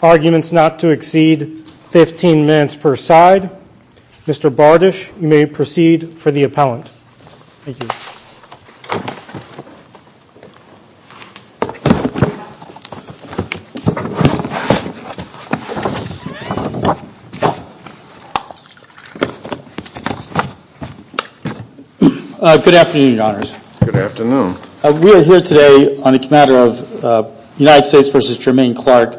Arguments not to exceed 15 minutes per side. Mr. Bardish, you may proceed for the appellant. Thank you. Good afternoon, Your Honors. Good afternoon. We are here today on the matter of United States v. Jermaine Clark,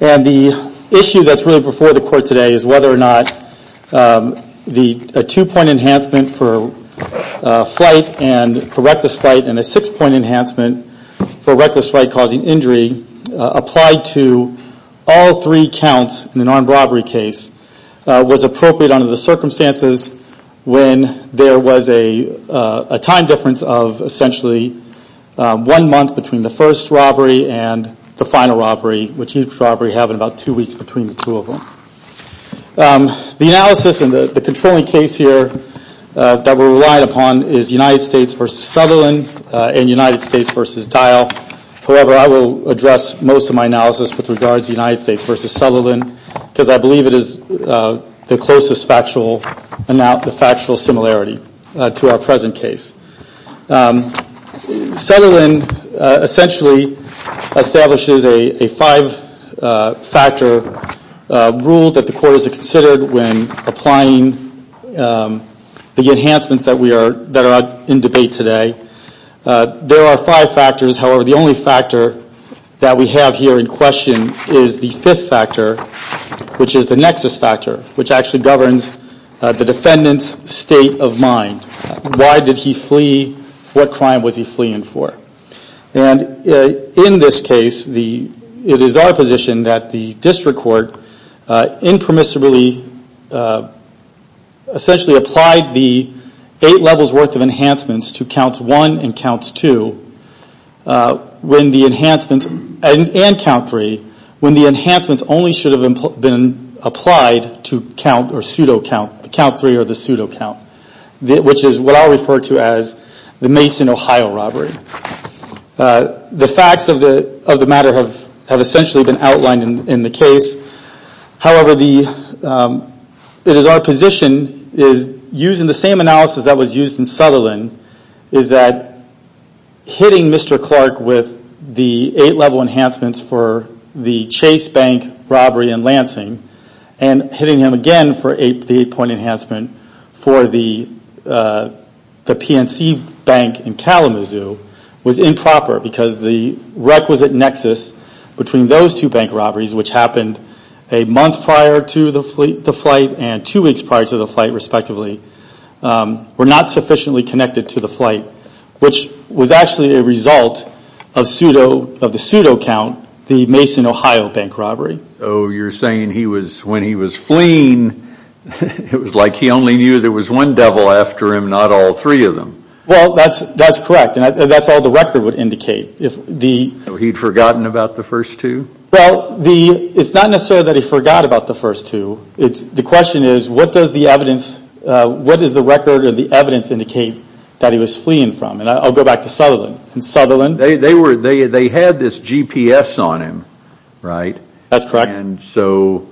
and the issue that's really before the court today is whether or not the two-point enhancement for reckless flight and a six-point enhancement for reckless flight causing injury applied to all three counts in an armed robbery case was appropriate under the circumstances when there was a time difference of essentially one month between the first robbery and the final robbery, which each robbery happened about two weeks between the two of them. The analysis and the controlling case here that we're relying upon is United States v. Sutherland and United States v. Dial. However, I will address most of my analysis with regards to United States v. Sutherland because I believe it is the closest factual similarity to our present case. Sutherland essentially establishes a five-factor rule that the court has considered when applying the enhancements that are in debate today. There are five factors. However, the only factor that we have here in question is the fifth factor, which is the nexus factor, which actually governs the defendant's state of mind. Why did he flee? What crime was he fleeing for? In this case, it is our position that the district court impermissibly essentially applied the eight levels worth of enhancements to counts one and counts two and count three when the enhancements only should have been applied to count three or the pseudo count. Which is what I'll refer to as the Mason, Ohio robbery. The facts of the matter have essentially been outlined in the case. However, it is our position, using the same analysis that was used in Sutherland, is that hitting Mr. Clark with the eight-level enhancements for the Chase Bank robbery in Lansing and hitting him again for the eight-point enhancement for the PNC Bank in Kalamazoo was improper because the requisite nexus between those two bank robberies, which happened a month prior to the flight and two weeks prior to the flight respectively, were not sufficiently connected to the flight, which was actually a result of the pseudo count, the Mason, Ohio bank robbery. So you're saying when he was fleeing, it was like he only knew there was one devil after him, not all three of them? Well, that's correct, and that's all the record would indicate. He'd forgotten about the first two? Well, it's not necessarily that he forgot about the first two. The question is, what does the evidence, what does the record or the evidence indicate that he was fleeing from? And I'll go back to Sutherland. They had this GPS on him, right? That's correct. And so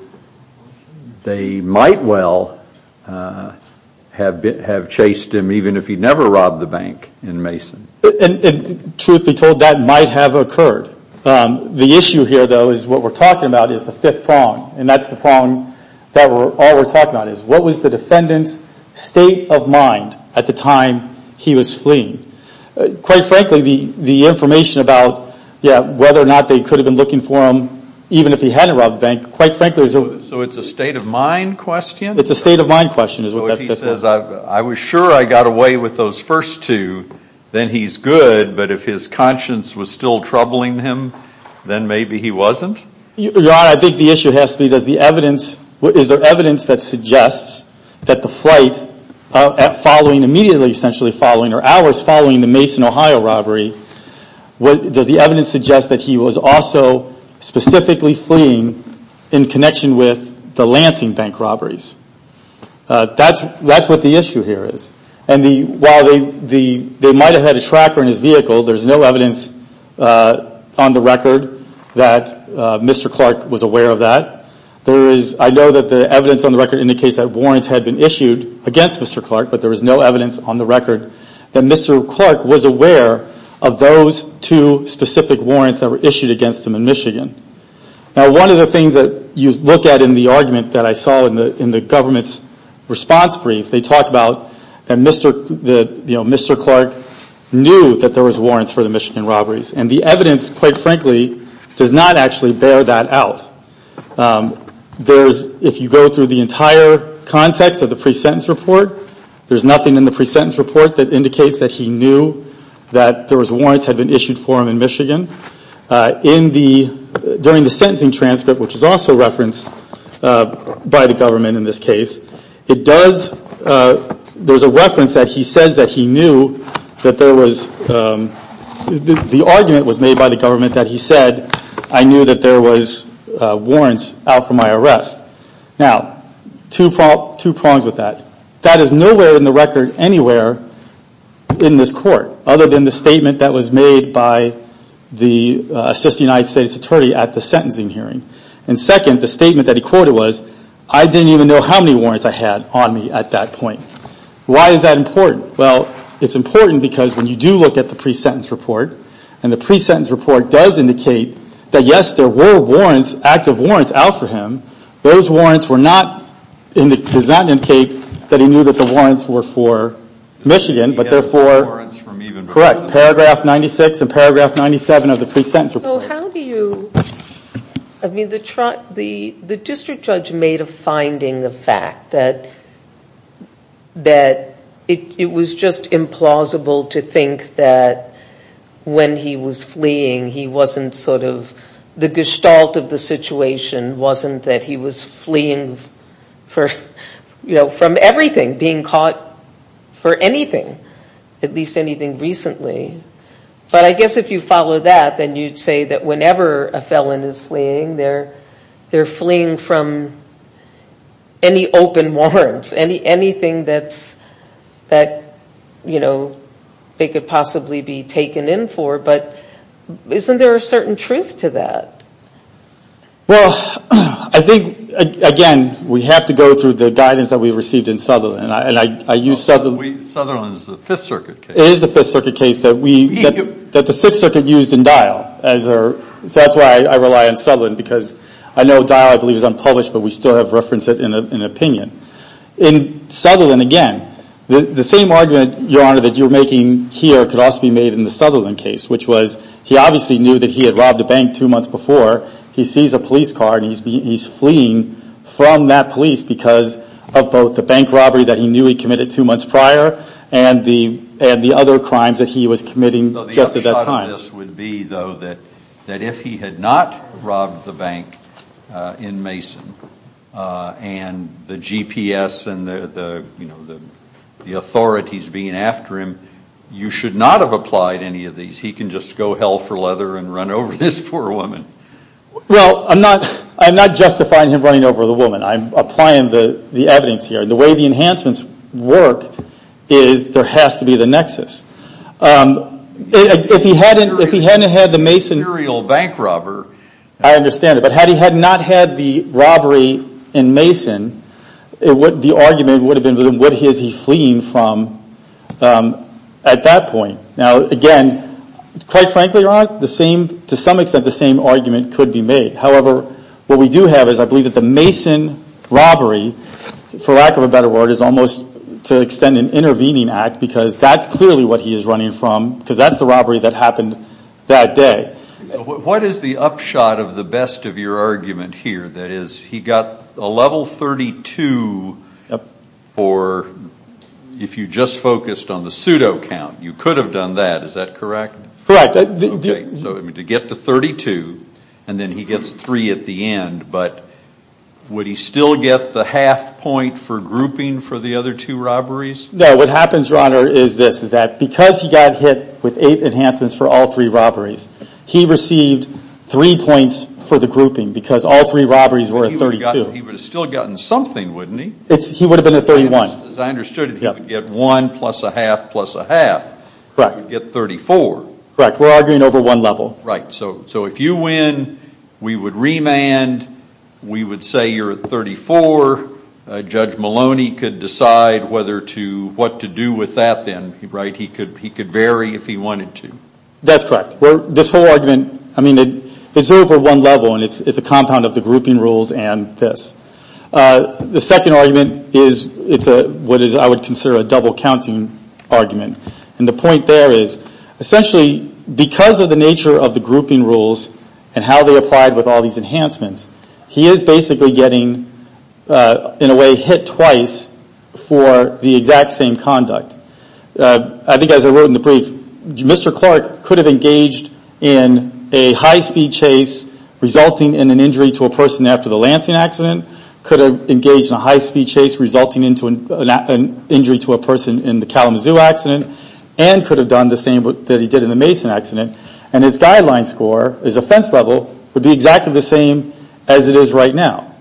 they might well have chased him even if he never robbed the bank in Mason. Truth be told, that might have occurred. The issue here, though, is what we're talking about is the fifth prong, and that's the prong that all we're talking about is what was the defendant's state of mind at the time he was fleeing? Quite frankly, the information about whether or not they could have been looking for him, even if he hadn't robbed the bank, quite frankly is... So it's a state of mind question? It's a state of mind question, is what that says. So if he says, I was sure I got away with those first two, then he's good, but if his conscience was still troubling him, then maybe he wasn't? Your Honor, I think the issue has to be does the evidence, is there evidence that suggests that the flight following, immediately essentially following, or hours following the Mason, Ohio robbery, does the evidence suggest that he was also specifically fleeing in connection with the Lansing bank robberies? That's what the issue here is. And while they might have had a tracker in his vehicle, there's no evidence on the record that Mr. Clark was aware of that. I know that the evidence on the record indicates that warrants had been issued against Mr. Clark, but there is no evidence on the record that Mr. Clark was aware of those two specific warrants that were issued against him in Michigan. Now one of the things that you look at in the argument that I saw in the government's response brief, they talk about that Mr. Clark knew that there was warrants for the Michigan robberies. And the evidence, quite frankly, does not actually bear that out. If you go through the entire context of the pre-sentence report, there's nothing in the pre-sentence report that indicates that he knew that there was warrants had been issued for him in Michigan. During the sentencing transcript, which is also referenced by the government in this case, there's a reference that he says that he knew that there was, the argument was made by the government that he said, I knew that there was warrants out for my arrest. Now, two prongs with that. That is nowhere in the record anywhere in this court, other than the statement that was made by the Assistant United States Attorney at the sentencing hearing. And second, the statement that he quoted was, I didn't even know how many warrants I had on me at that point. Why is that important? Well, it's important because when you do look at the pre-sentence report, and the pre-sentence report does indicate that yes, there were warrants, active warrants out for him. Those warrants were not, does not indicate that he knew that the warrants were for Michigan, but they're for, correct, paragraph 96 and paragraph 97 of the pre-sentence report. So how do you, I mean, the district judge made a finding, a fact, that it was just implausible to think that when he was fleeing, he wasn't sort of, the gestalt of the situation wasn't that he was fleeing from everything, being caught for anything, at least anything recently. But I guess if you follow that, then you'd say that whenever a felon is fleeing, they're fleeing from any open warrants, anything that they could possibly be taken in for. But isn't there a certain truth to that? Well, I think, again, we have to go through the guidance that we received in Sutherland, and I use Sutherland. Sutherland is the Fifth Circuit case. Thank you. That the Sixth Circuit used in Dial. So that's why I rely on Sutherland, because I know Dial, I believe, is unpublished, but we still have referenced it in an opinion. In Sutherland, again, the same argument, Your Honor, that you're making here could also be made in the Sutherland case, which was he obviously knew that he had robbed a bank two months before. He sees a police car, and he's fleeing from that police because of both the bank robbery that he knew he committed two months prior, and the other crimes that he was committing just at that time. The upshot of this would be, though, that if he had not robbed the bank in Mason, and the GPS and the authorities being after him, you should not have applied any of these. He can just go hell for leather and run over this poor woman. Well, I'm not justifying him running over the woman. I'm applying the evidence here. The way the enhancements work is there has to be the nexus. If he hadn't had the Mason burial bank robbery, I understand it. But had he not had the robbery in Mason, the argument would have been, what is he fleeing from at that point? Now, again, quite frankly, Your Honor, to some extent the same argument could be made. However, what we do have is I believe that the Mason robbery, for lack of a better word, is almost to extend an intervening act because that's clearly what he is running from because that's the robbery that happened that day. What is the upshot of the best of your argument here? That is, he got a level 32 for if you just focused on the pseudo count. You could have done that. Is that correct? Correct. So to get to 32, and then he gets three at the end, but would he still get the half point for grouping for the other two robberies? No, what happens, Your Honor, is this, is that because he got hit with eight enhancements for all three robberies, he received three points for the grouping because all three robberies were at 32. He would have still gotten something, wouldn't he? He would have been at 31. As I understood it, he would get one plus a half plus a half. Correct. Get 34. Correct. We're arguing over one level. Right. So if you win, we would remand, we would say you're at 34, Judge Maloney could decide what to do with that then, right? He could vary if he wanted to. That's correct. This whole argument, I mean, it's over one level and it's a compound of the grouping rules and this. The second argument is what I would consider a double counting argument. And the point there is essentially because of the nature of the grouping rules and how they applied with all these enhancements, he is basically getting, in a way, hit twice for the exact same conduct. I think as I wrote in the brief, Mr. Clark could have engaged in a high speed chase resulting in an injury to a person after the Lansing accident, could have engaged in a high speed chase resulting in an injury to a person in the Kalamazoo accident, and could have done the same that he did in the Mason accident. And his guideline score, his offense level, would be exactly the same as it is right now.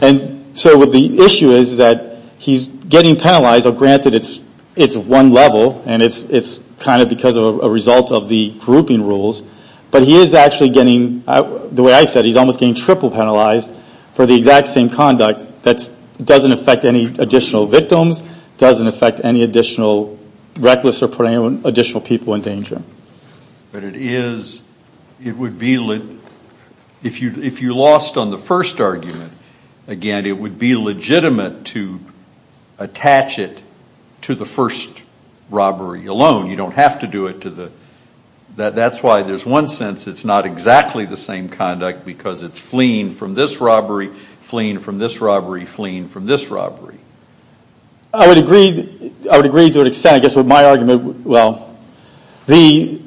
And so the issue is that he's getting penalized. Granted, it's one level and it's kind of because of a result of the grouping rules. But he is actually getting, the way I said, he's almost getting triple penalized for the exact same conduct that doesn't affect any additional victims, doesn't affect any additional reckless or put any additional people in danger. But it is, it would be, if you lost on the first argument, again, it would be legitimate to attach it to the first robbery alone. You don't have to do it to the, that's why there's one sense it's not exactly the same conduct because it's fleeing from this robbery, fleeing from this robbery, fleeing from this robbery. I would agree, I would agree to an extent, I guess with my argument, well, the,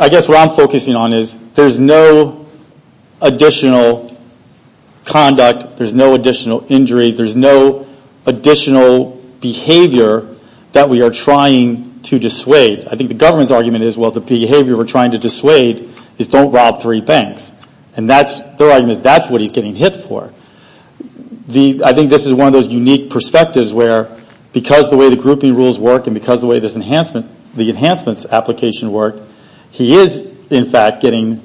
I guess what I'm focusing on is, there's no additional conduct, there's no additional injury, there's no additional behavior that we are trying to dissuade. I think the government's argument is, well, the behavior we're trying to dissuade is don't rob three banks. And that's, their argument is that's what he's getting hit for. The, I think this is one of those unique perspectives where because the way the grouping rules work and because the way this enhancement, the enhancements application work, he is, in fact, getting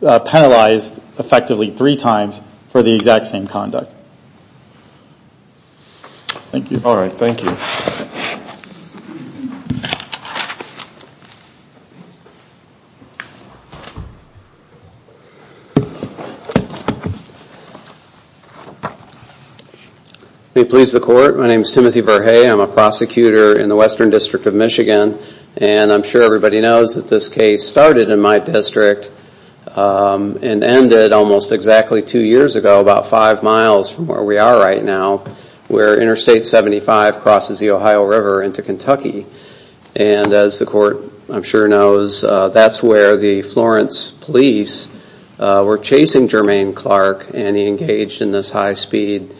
penalized effectively three times for the exact same conduct. Thank you. All right, thank you. May it please the court, my name is Timothy Verhey, I'm a prosecutor in the Western District of Michigan and I'm sure everybody knows that this case started in my district and ended almost exactly two years ago, about five miles from where we are right now, where Interstate 75 crosses the Ohio River into Kentucky. And as the court, I'm sure, knows, that's where the Florence police were chasing Jermaine Clark and he engaged in this high-speed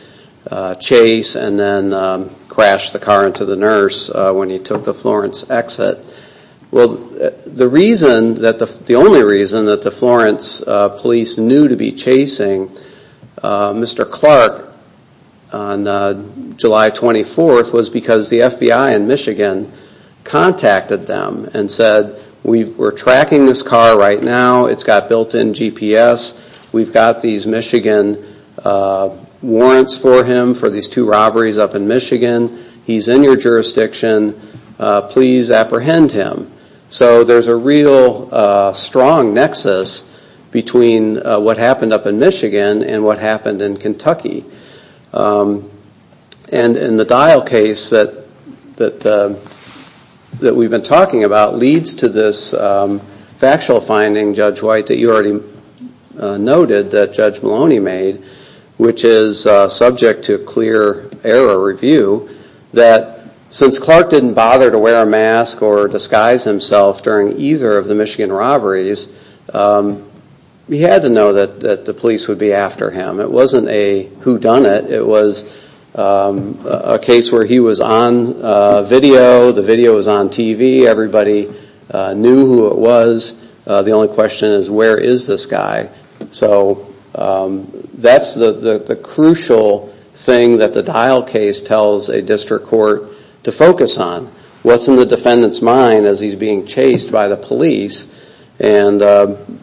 chase and then crashed the car into the nurse when he took the Florence exit. Well, the reason, the only reason that the Florence police knew to be chasing Mr. Clark on July 24th was because the FBI in Michigan contacted them and said we're tracking this car right now, it's got built-in GPS, we've got these Michigan warrants for him for these two robberies up in Michigan, he's in your jurisdiction, please apprehend him. So there's a real strong nexus between what happened up in Michigan and what happened in Kentucky. And the Dial case that we've been talking about leads to this factual finding, Judge White, that you already noted that Judge Maloney made, which is subject to clear error review, that since Clark didn't bother to wear a mask or disguise himself during either of the Michigan robberies, he had to know that the police would be after him. It wasn't a whodunit, it was a case where he was on video, the video was on TV, everybody knew who it was, the only question is where is this guy? So that's the crucial thing that the Dial case tells a district court to focus on, what's in the defendant's mind as he's being chased by the police, and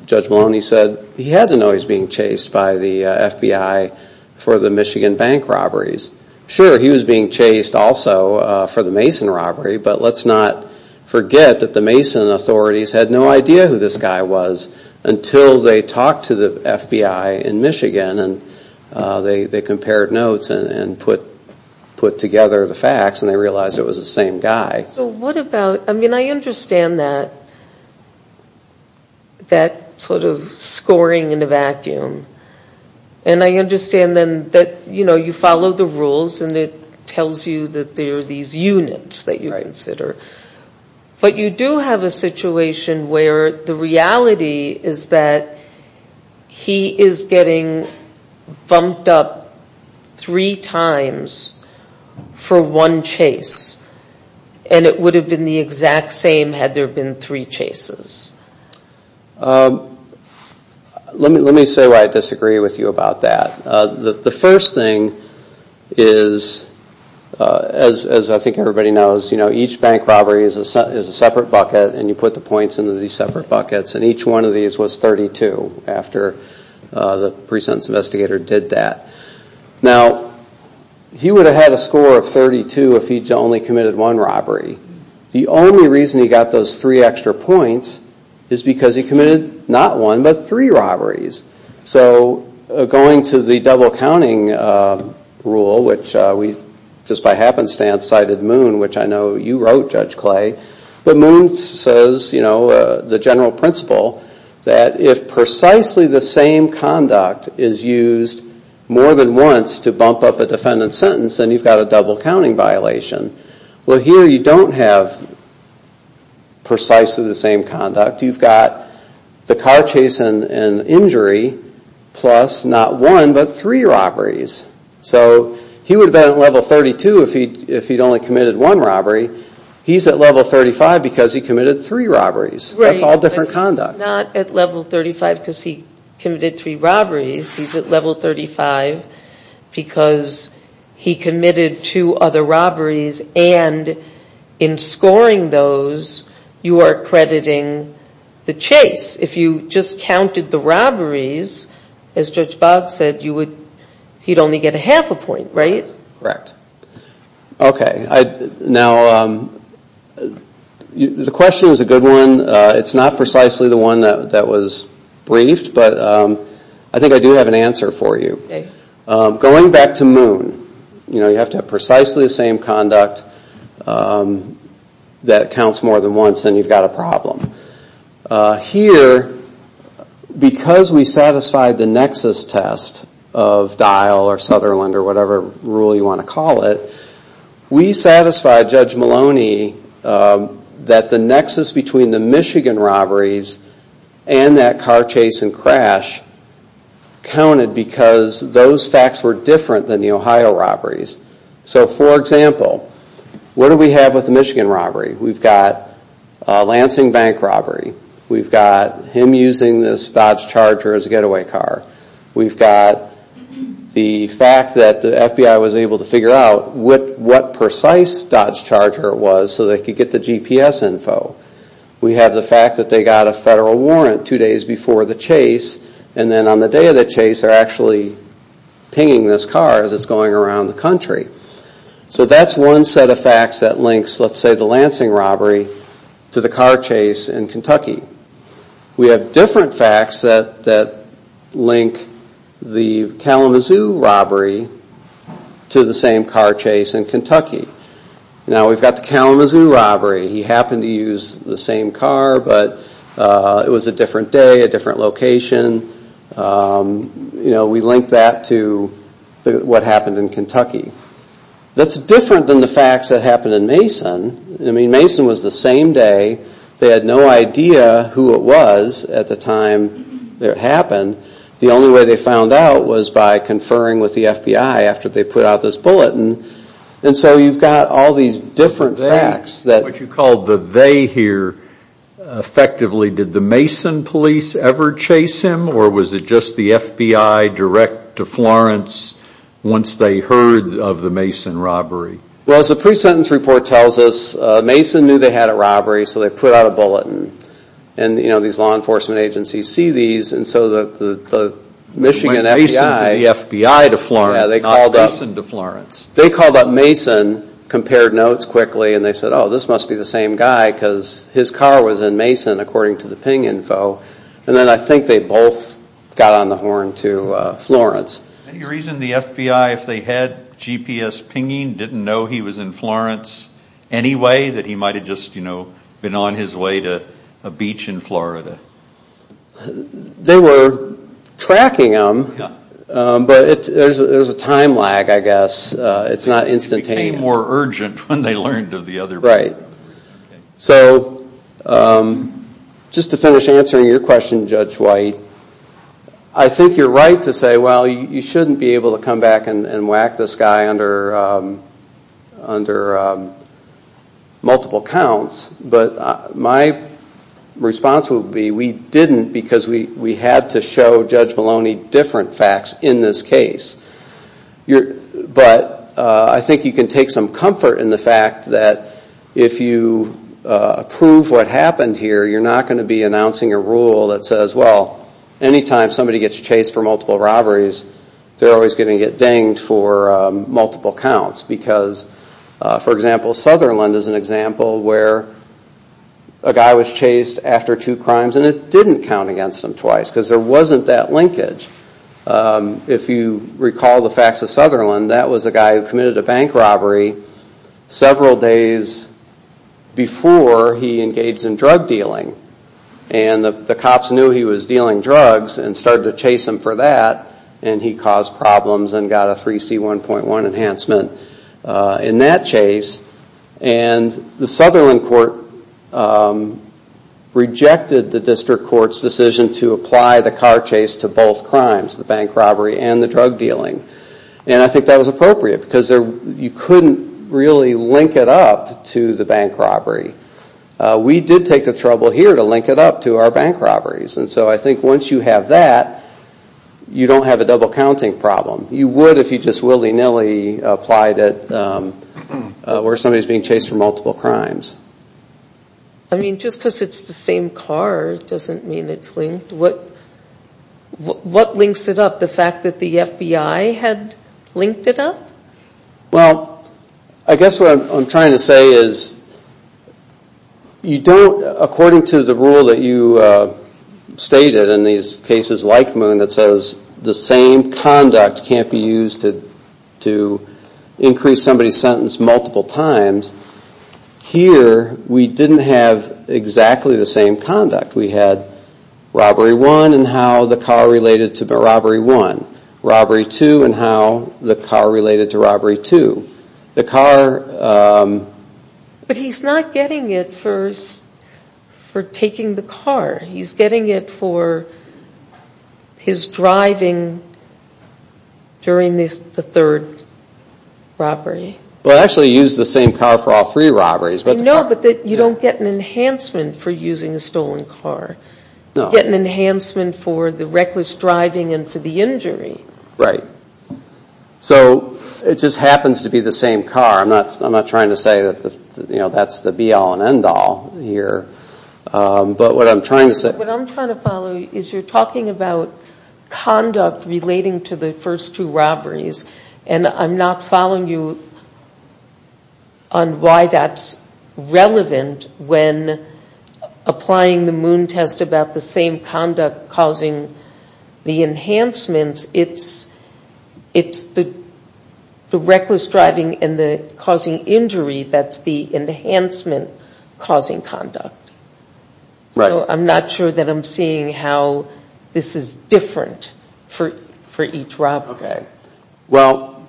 Judge Maloney said he had to know he was being chased by the FBI for the Michigan bank robberies. Sure, he was being chased also for the Mason robbery, but let's not forget that the Mason authorities had no idea who this guy was until they talked to the FBI in Michigan and they compared notes and put together the facts and they realized it was the same guy. So what about, I mean I understand that sort of scoring in a vacuum, and I understand that you follow the rules and it tells you that there are these units that you consider, but you do have a situation where the reality is that he is getting bumped up three times for one chase, and it would have been the exact same had there been three chases. Let me say why I disagree with you about that. The first thing is, as I think everybody knows, each bank robbery is a separate bucket and you put the points into these separate buckets, and each one of these was 32 after the pre-sentence investigator did that. Now, he would have had a score of 32 if he had only committed one robbery. The only reason he got those three extra points is because he committed not one, but three robberies. So going to the double-counting rule, which we just by happenstance cited Moon, which I know you wrote, Judge Clay, but Moon says the general principle that if precisely the same conduct is used more than once to bump up a defendant's sentence, then you've got a double-counting violation. Well, here you don't have precisely the same conduct. You've got the car chase and injury plus not one, but three robberies. So he would have been at level 32 if he'd only committed one robbery. He's at level 35 because he committed three robberies. That's all different conduct. Right, but he's not at level 35 because he committed three robberies. He's at level 35 because he committed two other robberies. And in scoring those, you are accrediting the chase. If you just counted the robberies, as Judge Bob said, he'd only get a half a point, right? Correct. Okay. Now, the question is a good one. It's not precisely the one that was briefed, but I think I do have an answer for you. Okay. Going back to Moon, you know, you have to have precisely the same conduct that counts more than once, then you've got a problem. Here, because we satisfied the nexus test of Dial or Sutherland or whatever rule you want to call it, we satisfied Judge Maloney that the nexus between the Michigan robberies and that car chase and crash counted because those facts were different than the Ohio robberies. So, for example, what do we have with the Michigan robbery? We've got a Lansing Bank robbery. We've got him using this Dodge Charger as a getaway car. We've got the fact that the FBI was able to figure out what precise Dodge Charger it was so they could get the GPS info. We have the fact that they got a federal warrant two days before the chase, and then on the day of the chase, they're actually pinging this car as it's going around the country. So that's one set of facts that links, let's say, the Lansing robbery to the car chase in Kentucky. We have different facts that link the Kalamazoo robbery to the same car chase in Kentucky. Now, we've got the Kalamazoo robbery. He happened to use the same car, but it was a different day, a different location. We link that to what happened in Kentucky. That's different than the facts that happened in Mason. I mean, Mason was the same day. They had no idea who it was at the time it happened. The only way they found out was by conferring with the FBI after they put out this bulletin. And so you've got all these different facts. What you call the they here, effectively, did the Mason police ever chase him, or was it just the FBI direct to Florence once they heard of the Mason robbery? Well, as the pre-sentence report tells us, Mason knew they had a robbery, so they put out a bulletin. And these law enforcement agencies see these, and so the Michigan FBI went Mason to the FBI to Florence, not Mason to Florence. They called up Mason, compared notes quickly, and they said, oh, this must be the same guy because his car was in Mason, according to the ping info. And then I think they both got on the horn to Florence. Any reason the FBI, if they had GPS pinging, didn't know he was in Florence anyway, that he might have just been on his way to a beach in Florida? They were tracking him, but there's a time lag, I guess. It's not instantaneous. It became more urgent when they learned of the other robbery. Right. So just to finish answering your question, Judge White, I think you're right to say, well, you shouldn't be able to come back and whack this guy under multiple counts. But my response would be, we didn't because we had to show Judge Maloney different facts in this case. But I think you can take some comfort in the fact that if you prove what happened here, you're not going to be announcing a rule that says, well, anytime somebody gets chased for multiple robberies, they're always going to get dinged for multiple counts. Because, for example, Sutherland is an example where a guy was chased after two crimes, and it didn't count against him twice because there wasn't that linkage. If you recall the facts of Sutherland, that was a guy who committed a bank robbery several days before he engaged in drug dealing. And the cops knew he was dealing drugs and started to chase him for that and he caused problems and got a 3C1.1 enhancement in that chase. And the Sutherland court rejected the District Court's decision to apply the car chase to both crimes, the bank robbery and the drug dealing. And I think that was appropriate because you couldn't really link it up to the bank robbery. We did take the trouble here to link it up to our bank robberies. And so I think once you have that, you don't have a double-counting problem. You would if you just willy-nilly applied it where somebody is being chased for multiple crimes. I mean, just because it's the same car doesn't mean it's linked. What links it up, the fact that the FBI had linked it up? Well, I guess what I'm trying to say is you don't, according to the rule that you stated in these cases like Moon that says the same conduct can't be used to increase somebody's sentence multiple times, here we didn't have exactly the same conduct. We had robbery one and how the car related to robbery one. Robbery two and how the car related to robbery two. But he's not getting it for taking the car. He's getting it for his driving during the third robbery. Well, actually he used the same car for all three robberies. No, but you don't get an enhancement for using a stolen car. You get an enhancement for the reckless driving and for the injury. Right. So it just happens to be the same car. I'm not trying to say that's the be-all and end-all here. But what I'm trying to say. What I'm trying to follow is you're talking about conduct relating to the first two robberies and I'm not following you on why that's relevant when applying the Moon test about the same conduct causing the enhancements. It's the reckless driving and the causing injury that's the enhancement causing conduct. Right. So I'm not sure that I'm seeing how this is different for each robbery. Okay. Well,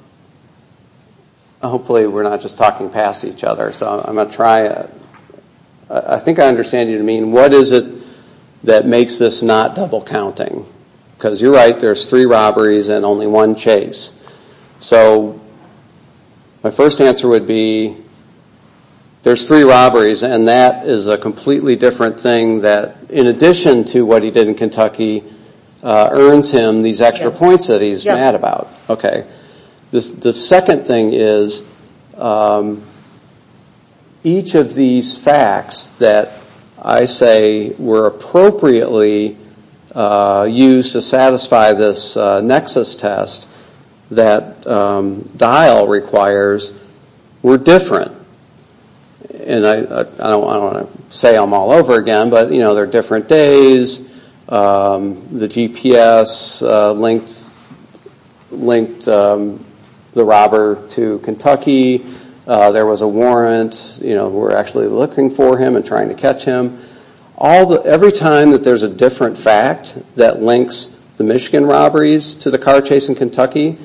hopefully we're not just talking past each other. I think I understand what you mean. What is it that makes this not double counting? Because you're right, there's three robberies and only one chase. So my first answer would be there's three robberies and that is a completely different thing that in addition to what he did in Kentucky earns him these extra points that he's mad about. Yes. Okay. The second thing is each of these facts that I say were appropriately used to satisfy this Nexus test that Dial requires were different. And I don't want to say them all over again, but they're different days. The GPS linked the robber to Kentucky. There was a warrant. We're actually looking for him and trying to catch him. Every time that there's a different fact that links the Michigan robberies to the car chase in Kentucky,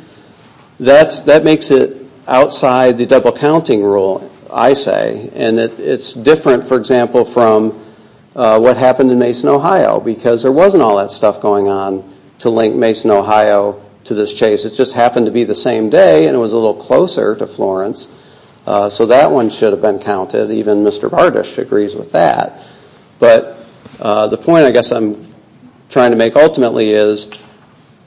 that makes it outside the double counting rule, I say. And it's different, for example, from what happened in Mason, Ohio. Because there wasn't all that stuff going on to link Mason, Ohio to this chase. It just happened to be the same day and it was a little closer to Florence. So that one should have been counted. Even Mr. Bartish agrees with that. But the point I guess I'm trying to make ultimately is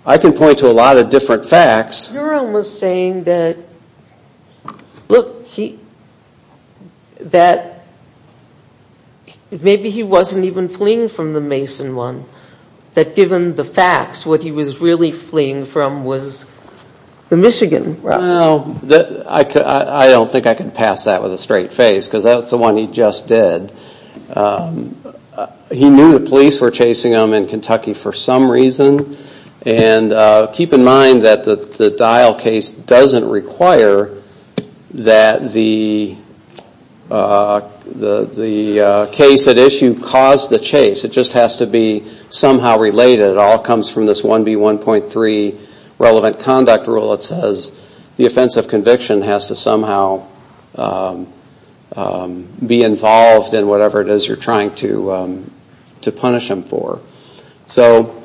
I can point to a lot of different facts. You're almost saying that maybe he wasn't even fleeing from the Mason one. That given the facts, what he was really fleeing from was the Michigan robber. I don't think I can pass that with a straight face because that's the one he just did. He knew the police were chasing him in Kentucky for some reason. Keep in mind that the Dial case doesn't require that the case at issue caused the chase. It just has to be somehow related. It all comes from this 1B1.3 relevant conduct rule that says the offense of conviction has to somehow be involved in whatever it is you're trying to punish him for. So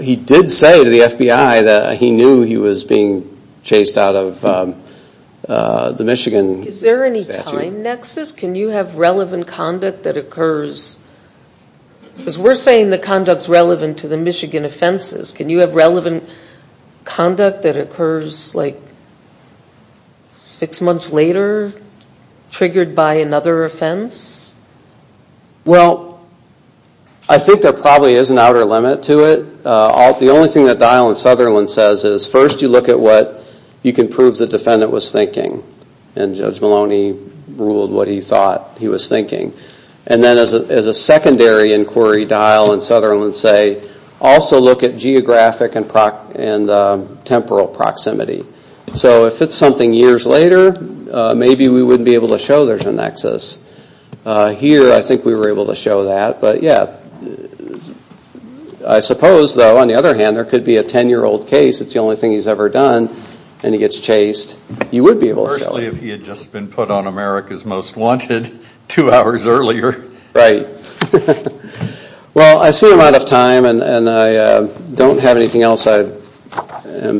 he did say to the FBI that he knew he was being chased out of the Michigan statute. Is there any time nexus? Can you have relevant conduct that occurs? Because we're saying the conduct is relevant to the Michigan offenses. Can you have relevant conduct that occurs like six months later triggered by another offense? Well, I think there probably is an outer limit to it. The only thing that Dial and Sutherland says is first you look at what you can prove the defendant was thinking. And Judge Maloney ruled what he thought he was thinking. And then as a secondary inquiry Dial and Sutherland say, also look at geographic and temporal proximity. So if it's something years later, maybe we wouldn't be able to show there's a nexus. Here I think we were able to show that. But, yeah, I suppose, though, on the other hand, there could be a 10-year-old case, it's the only thing he's ever done, and he gets chased. You would be able to show that. Especially if he had just been put on America's Most Wanted two hours earlier. Right. Well, I see I'm out of time, and I don't have anything else I'm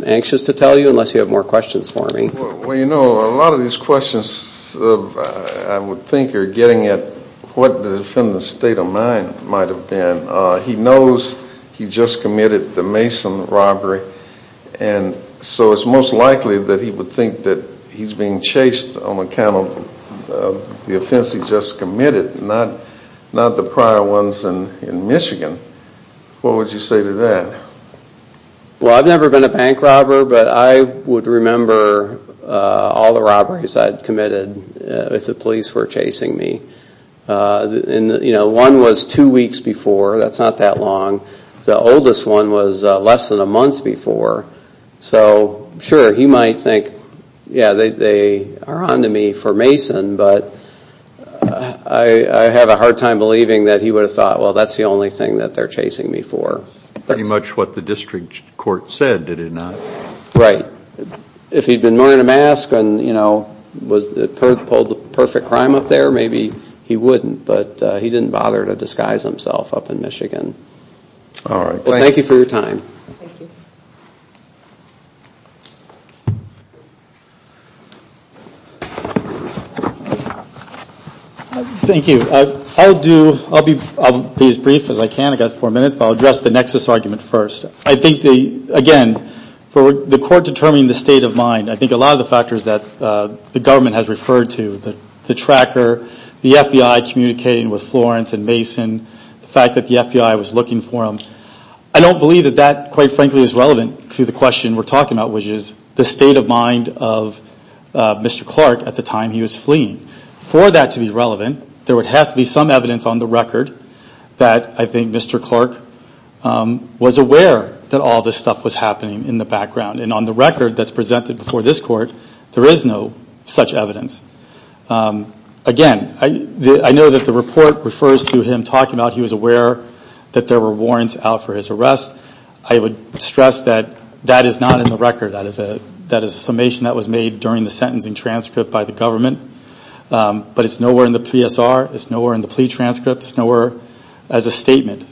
anxious to tell you unless you have more questions for me. Well, you know, a lot of these questions, I would think, are getting at what the defendant's state of mind might have been. He knows he just committed the Mason robbery, and so it's most likely that he would think that he's being chased on account of the offense he just committed, not the prior ones in Michigan. What would you say to that? Well, I've never been a bank robber, but I would remember all the robberies I'd committed if the police were chasing me. One was two weeks before. That's not that long. The oldest one was less than a month before. So, sure, he might think, yeah, they are on to me for Mason, but I have a hard time believing that he would have thought, well, that's the only thing that they're chasing me for. That's pretty much what the district court said, did it not? Right. If he'd been wearing a mask and, you know, pulled the perfect crime up there, maybe he wouldn't, but he didn't bother to disguise himself up in Michigan. All right. Well, thank you for your time. Thank you. Thank you. I'll be as brief as I can. I've got four minutes, but I'll address the nexus argument first. I think, again, for the court determining the state of mind, I think a lot of the factors that the government has referred to, the tracker, the FBI communicating with Florence and Mason, the fact that the FBI was looking for him, I don't believe that that, quite frankly, is relevant to the question we're talking about, which is the state of mind of Mr. Clark at the time he was fleeing. For that to be relevant, there would have to be some evidence on the record that I think Mr. Clark was aware that all this stuff was happening in the background. And on the record that's presented before this court, there is no such evidence. Again, I know that the report refers to him talking about he was aware that there were warrants out for his arrest. I would stress that that is not in the record. That is a summation that was made during the sentencing transcript by the government. But it's nowhere in the PSR. It's nowhere in the plea transcript. It's nowhere as a statement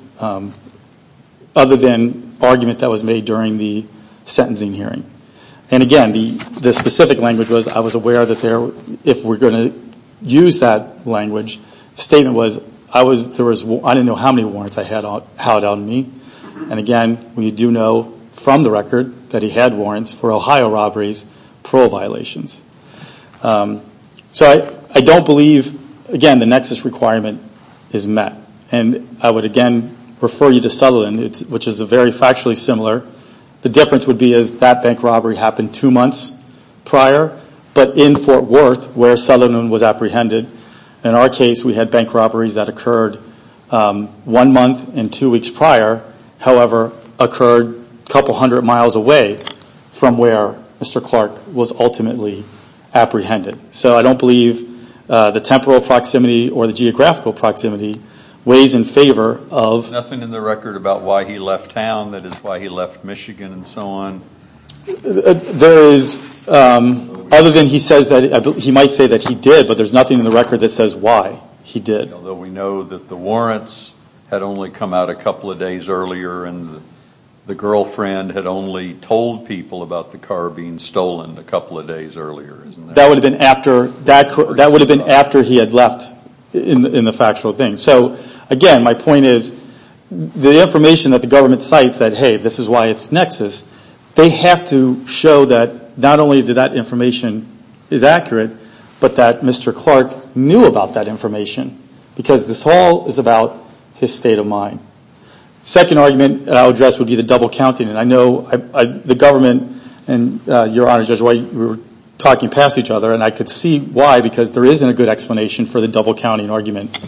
other than argument that was made during the sentencing hearing. And again, the specific language was I was aware that if we're going to use that language, the statement was I didn't know how many warrants I had out on me. And again, we do know from the record that he had warrants for Ohio robberies, parole violations. So I don't believe, again, the nexus requirement is met. And I would again refer you to Sutherland, which is very factually similar. The difference would be that that bank robbery happened two months prior, but in Fort Worth where Sutherland was apprehended. In our case, we had bank robberies that occurred one month and two weeks prior, however, occurred a couple hundred miles away from where Mr. Clark was ultimately apprehended. So I don't believe the temporal proximity or the geographical proximity weighs in favor of. There's nothing in the record about why he left town, that is why he left Michigan and so on. There is, other than he says that, he might say that he did, but there's nothing in the record that says why he did. Although we know that the warrants had only come out a couple of days earlier and the girlfriend had only told people about the car being stolen a couple of days earlier. That would have been after he had left in the factual thing. So again, my point is the information that the government cites that, hey, this is why it's nexus, they have to show that not only that that information is accurate, but that Mr. Clark knew about that information because this all is about his state of mind. The second argument I'll address would be the double counting. I know the government and your Honor, Judge White, we were talking past each other and I could see why because there isn't a good explanation for the double counting argument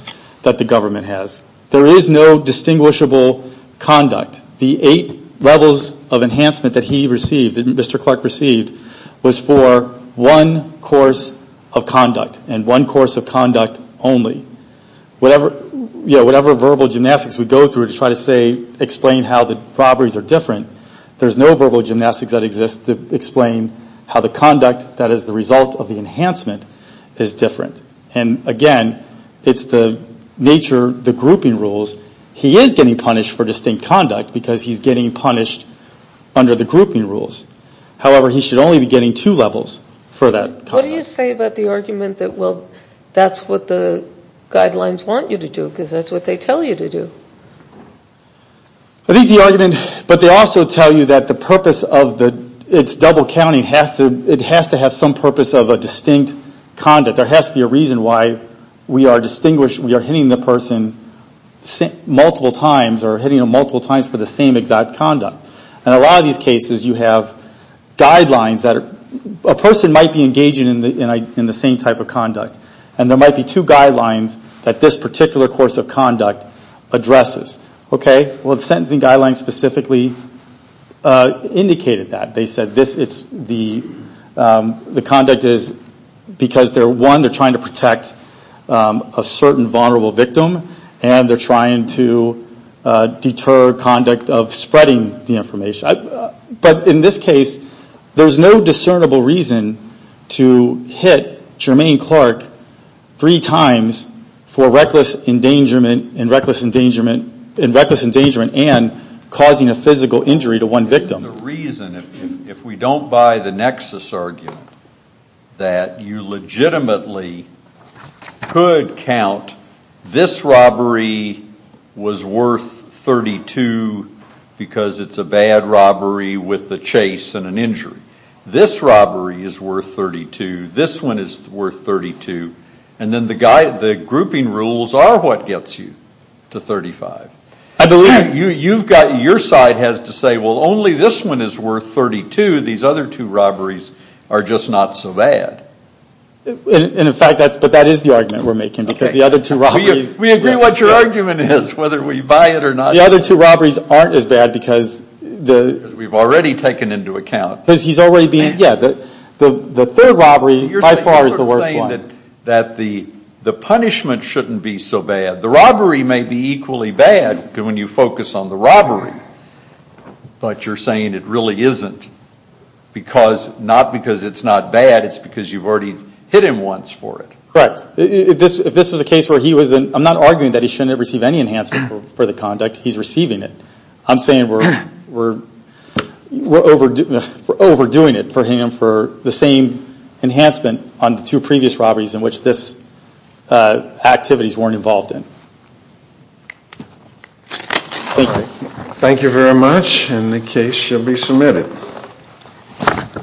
that the government has. There is no distinguishable conduct. The eight levels of enhancement that he received, that Mr. Clark received, was for one course of conduct and one course of conduct only. Whatever verbal gymnastics we go through to try to say, explain how the robberies are different, there's no verbal gymnastics that exists to explain how the conduct that is the result of the enhancement is different. And again, it's the nature, the grouping rules. He is getting punished for distinct conduct because he's getting punished under the grouping rules. However, he should only be getting two levels for that conduct. What do you say about the argument that, well, that's what the guidelines want you to do because that's what they tell you to do? I think the argument, but they also tell you that the purpose of its double counting, it has to have some purpose of a distinct conduct. There has to be a reason why we are hitting the person multiple times or hitting them multiple times for the same exact conduct. In a lot of these cases, you have guidelines. A person might be engaging in the same type of conduct and there might be two guidelines that this particular course of conduct addresses. Well, the sentencing guidelines specifically indicated that. They said the conduct is because, one, they're trying to protect a certain vulnerable victim and they're trying to deter conduct of spreading the information. But in this case, there's no discernible reason to hit Jermaine Clark three times for reckless endangerment and causing a physical injury to one victim. The reason, if we don't buy the nexus argument, that you legitimately could count this robbery was worth 32 because it's a bad robbery with a chase and an injury. This robbery is worth 32. This one is worth 32. And then the grouping rules are what gets you to 35. I believe your side has to say, well, only this one is worth 32. These other two robberies are just not so bad. But that is the argument we're making because the other two robberies... We agree what your argument is, whether we buy it or not. The other two robberies aren't as bad because... Because we've already taken into account. The third robbery by far is the worst one. You're saying that the punishment shouldn't be so bad. The robbery may be equally bad when you focus on the robbery. But you're saying it really isn't because... Not because it's not bad. It's because you've already hit him once for it. Correct. If this was a case where he was... I'm not arguing that he shouldn't have received any enhancement for the conduct. He's receiving it. I'm saying we're overdoing it for him for the same enhancement on the two previous robberies in which these activities weren't involved in. Thank you. Thank you very much and the case shall be submitted.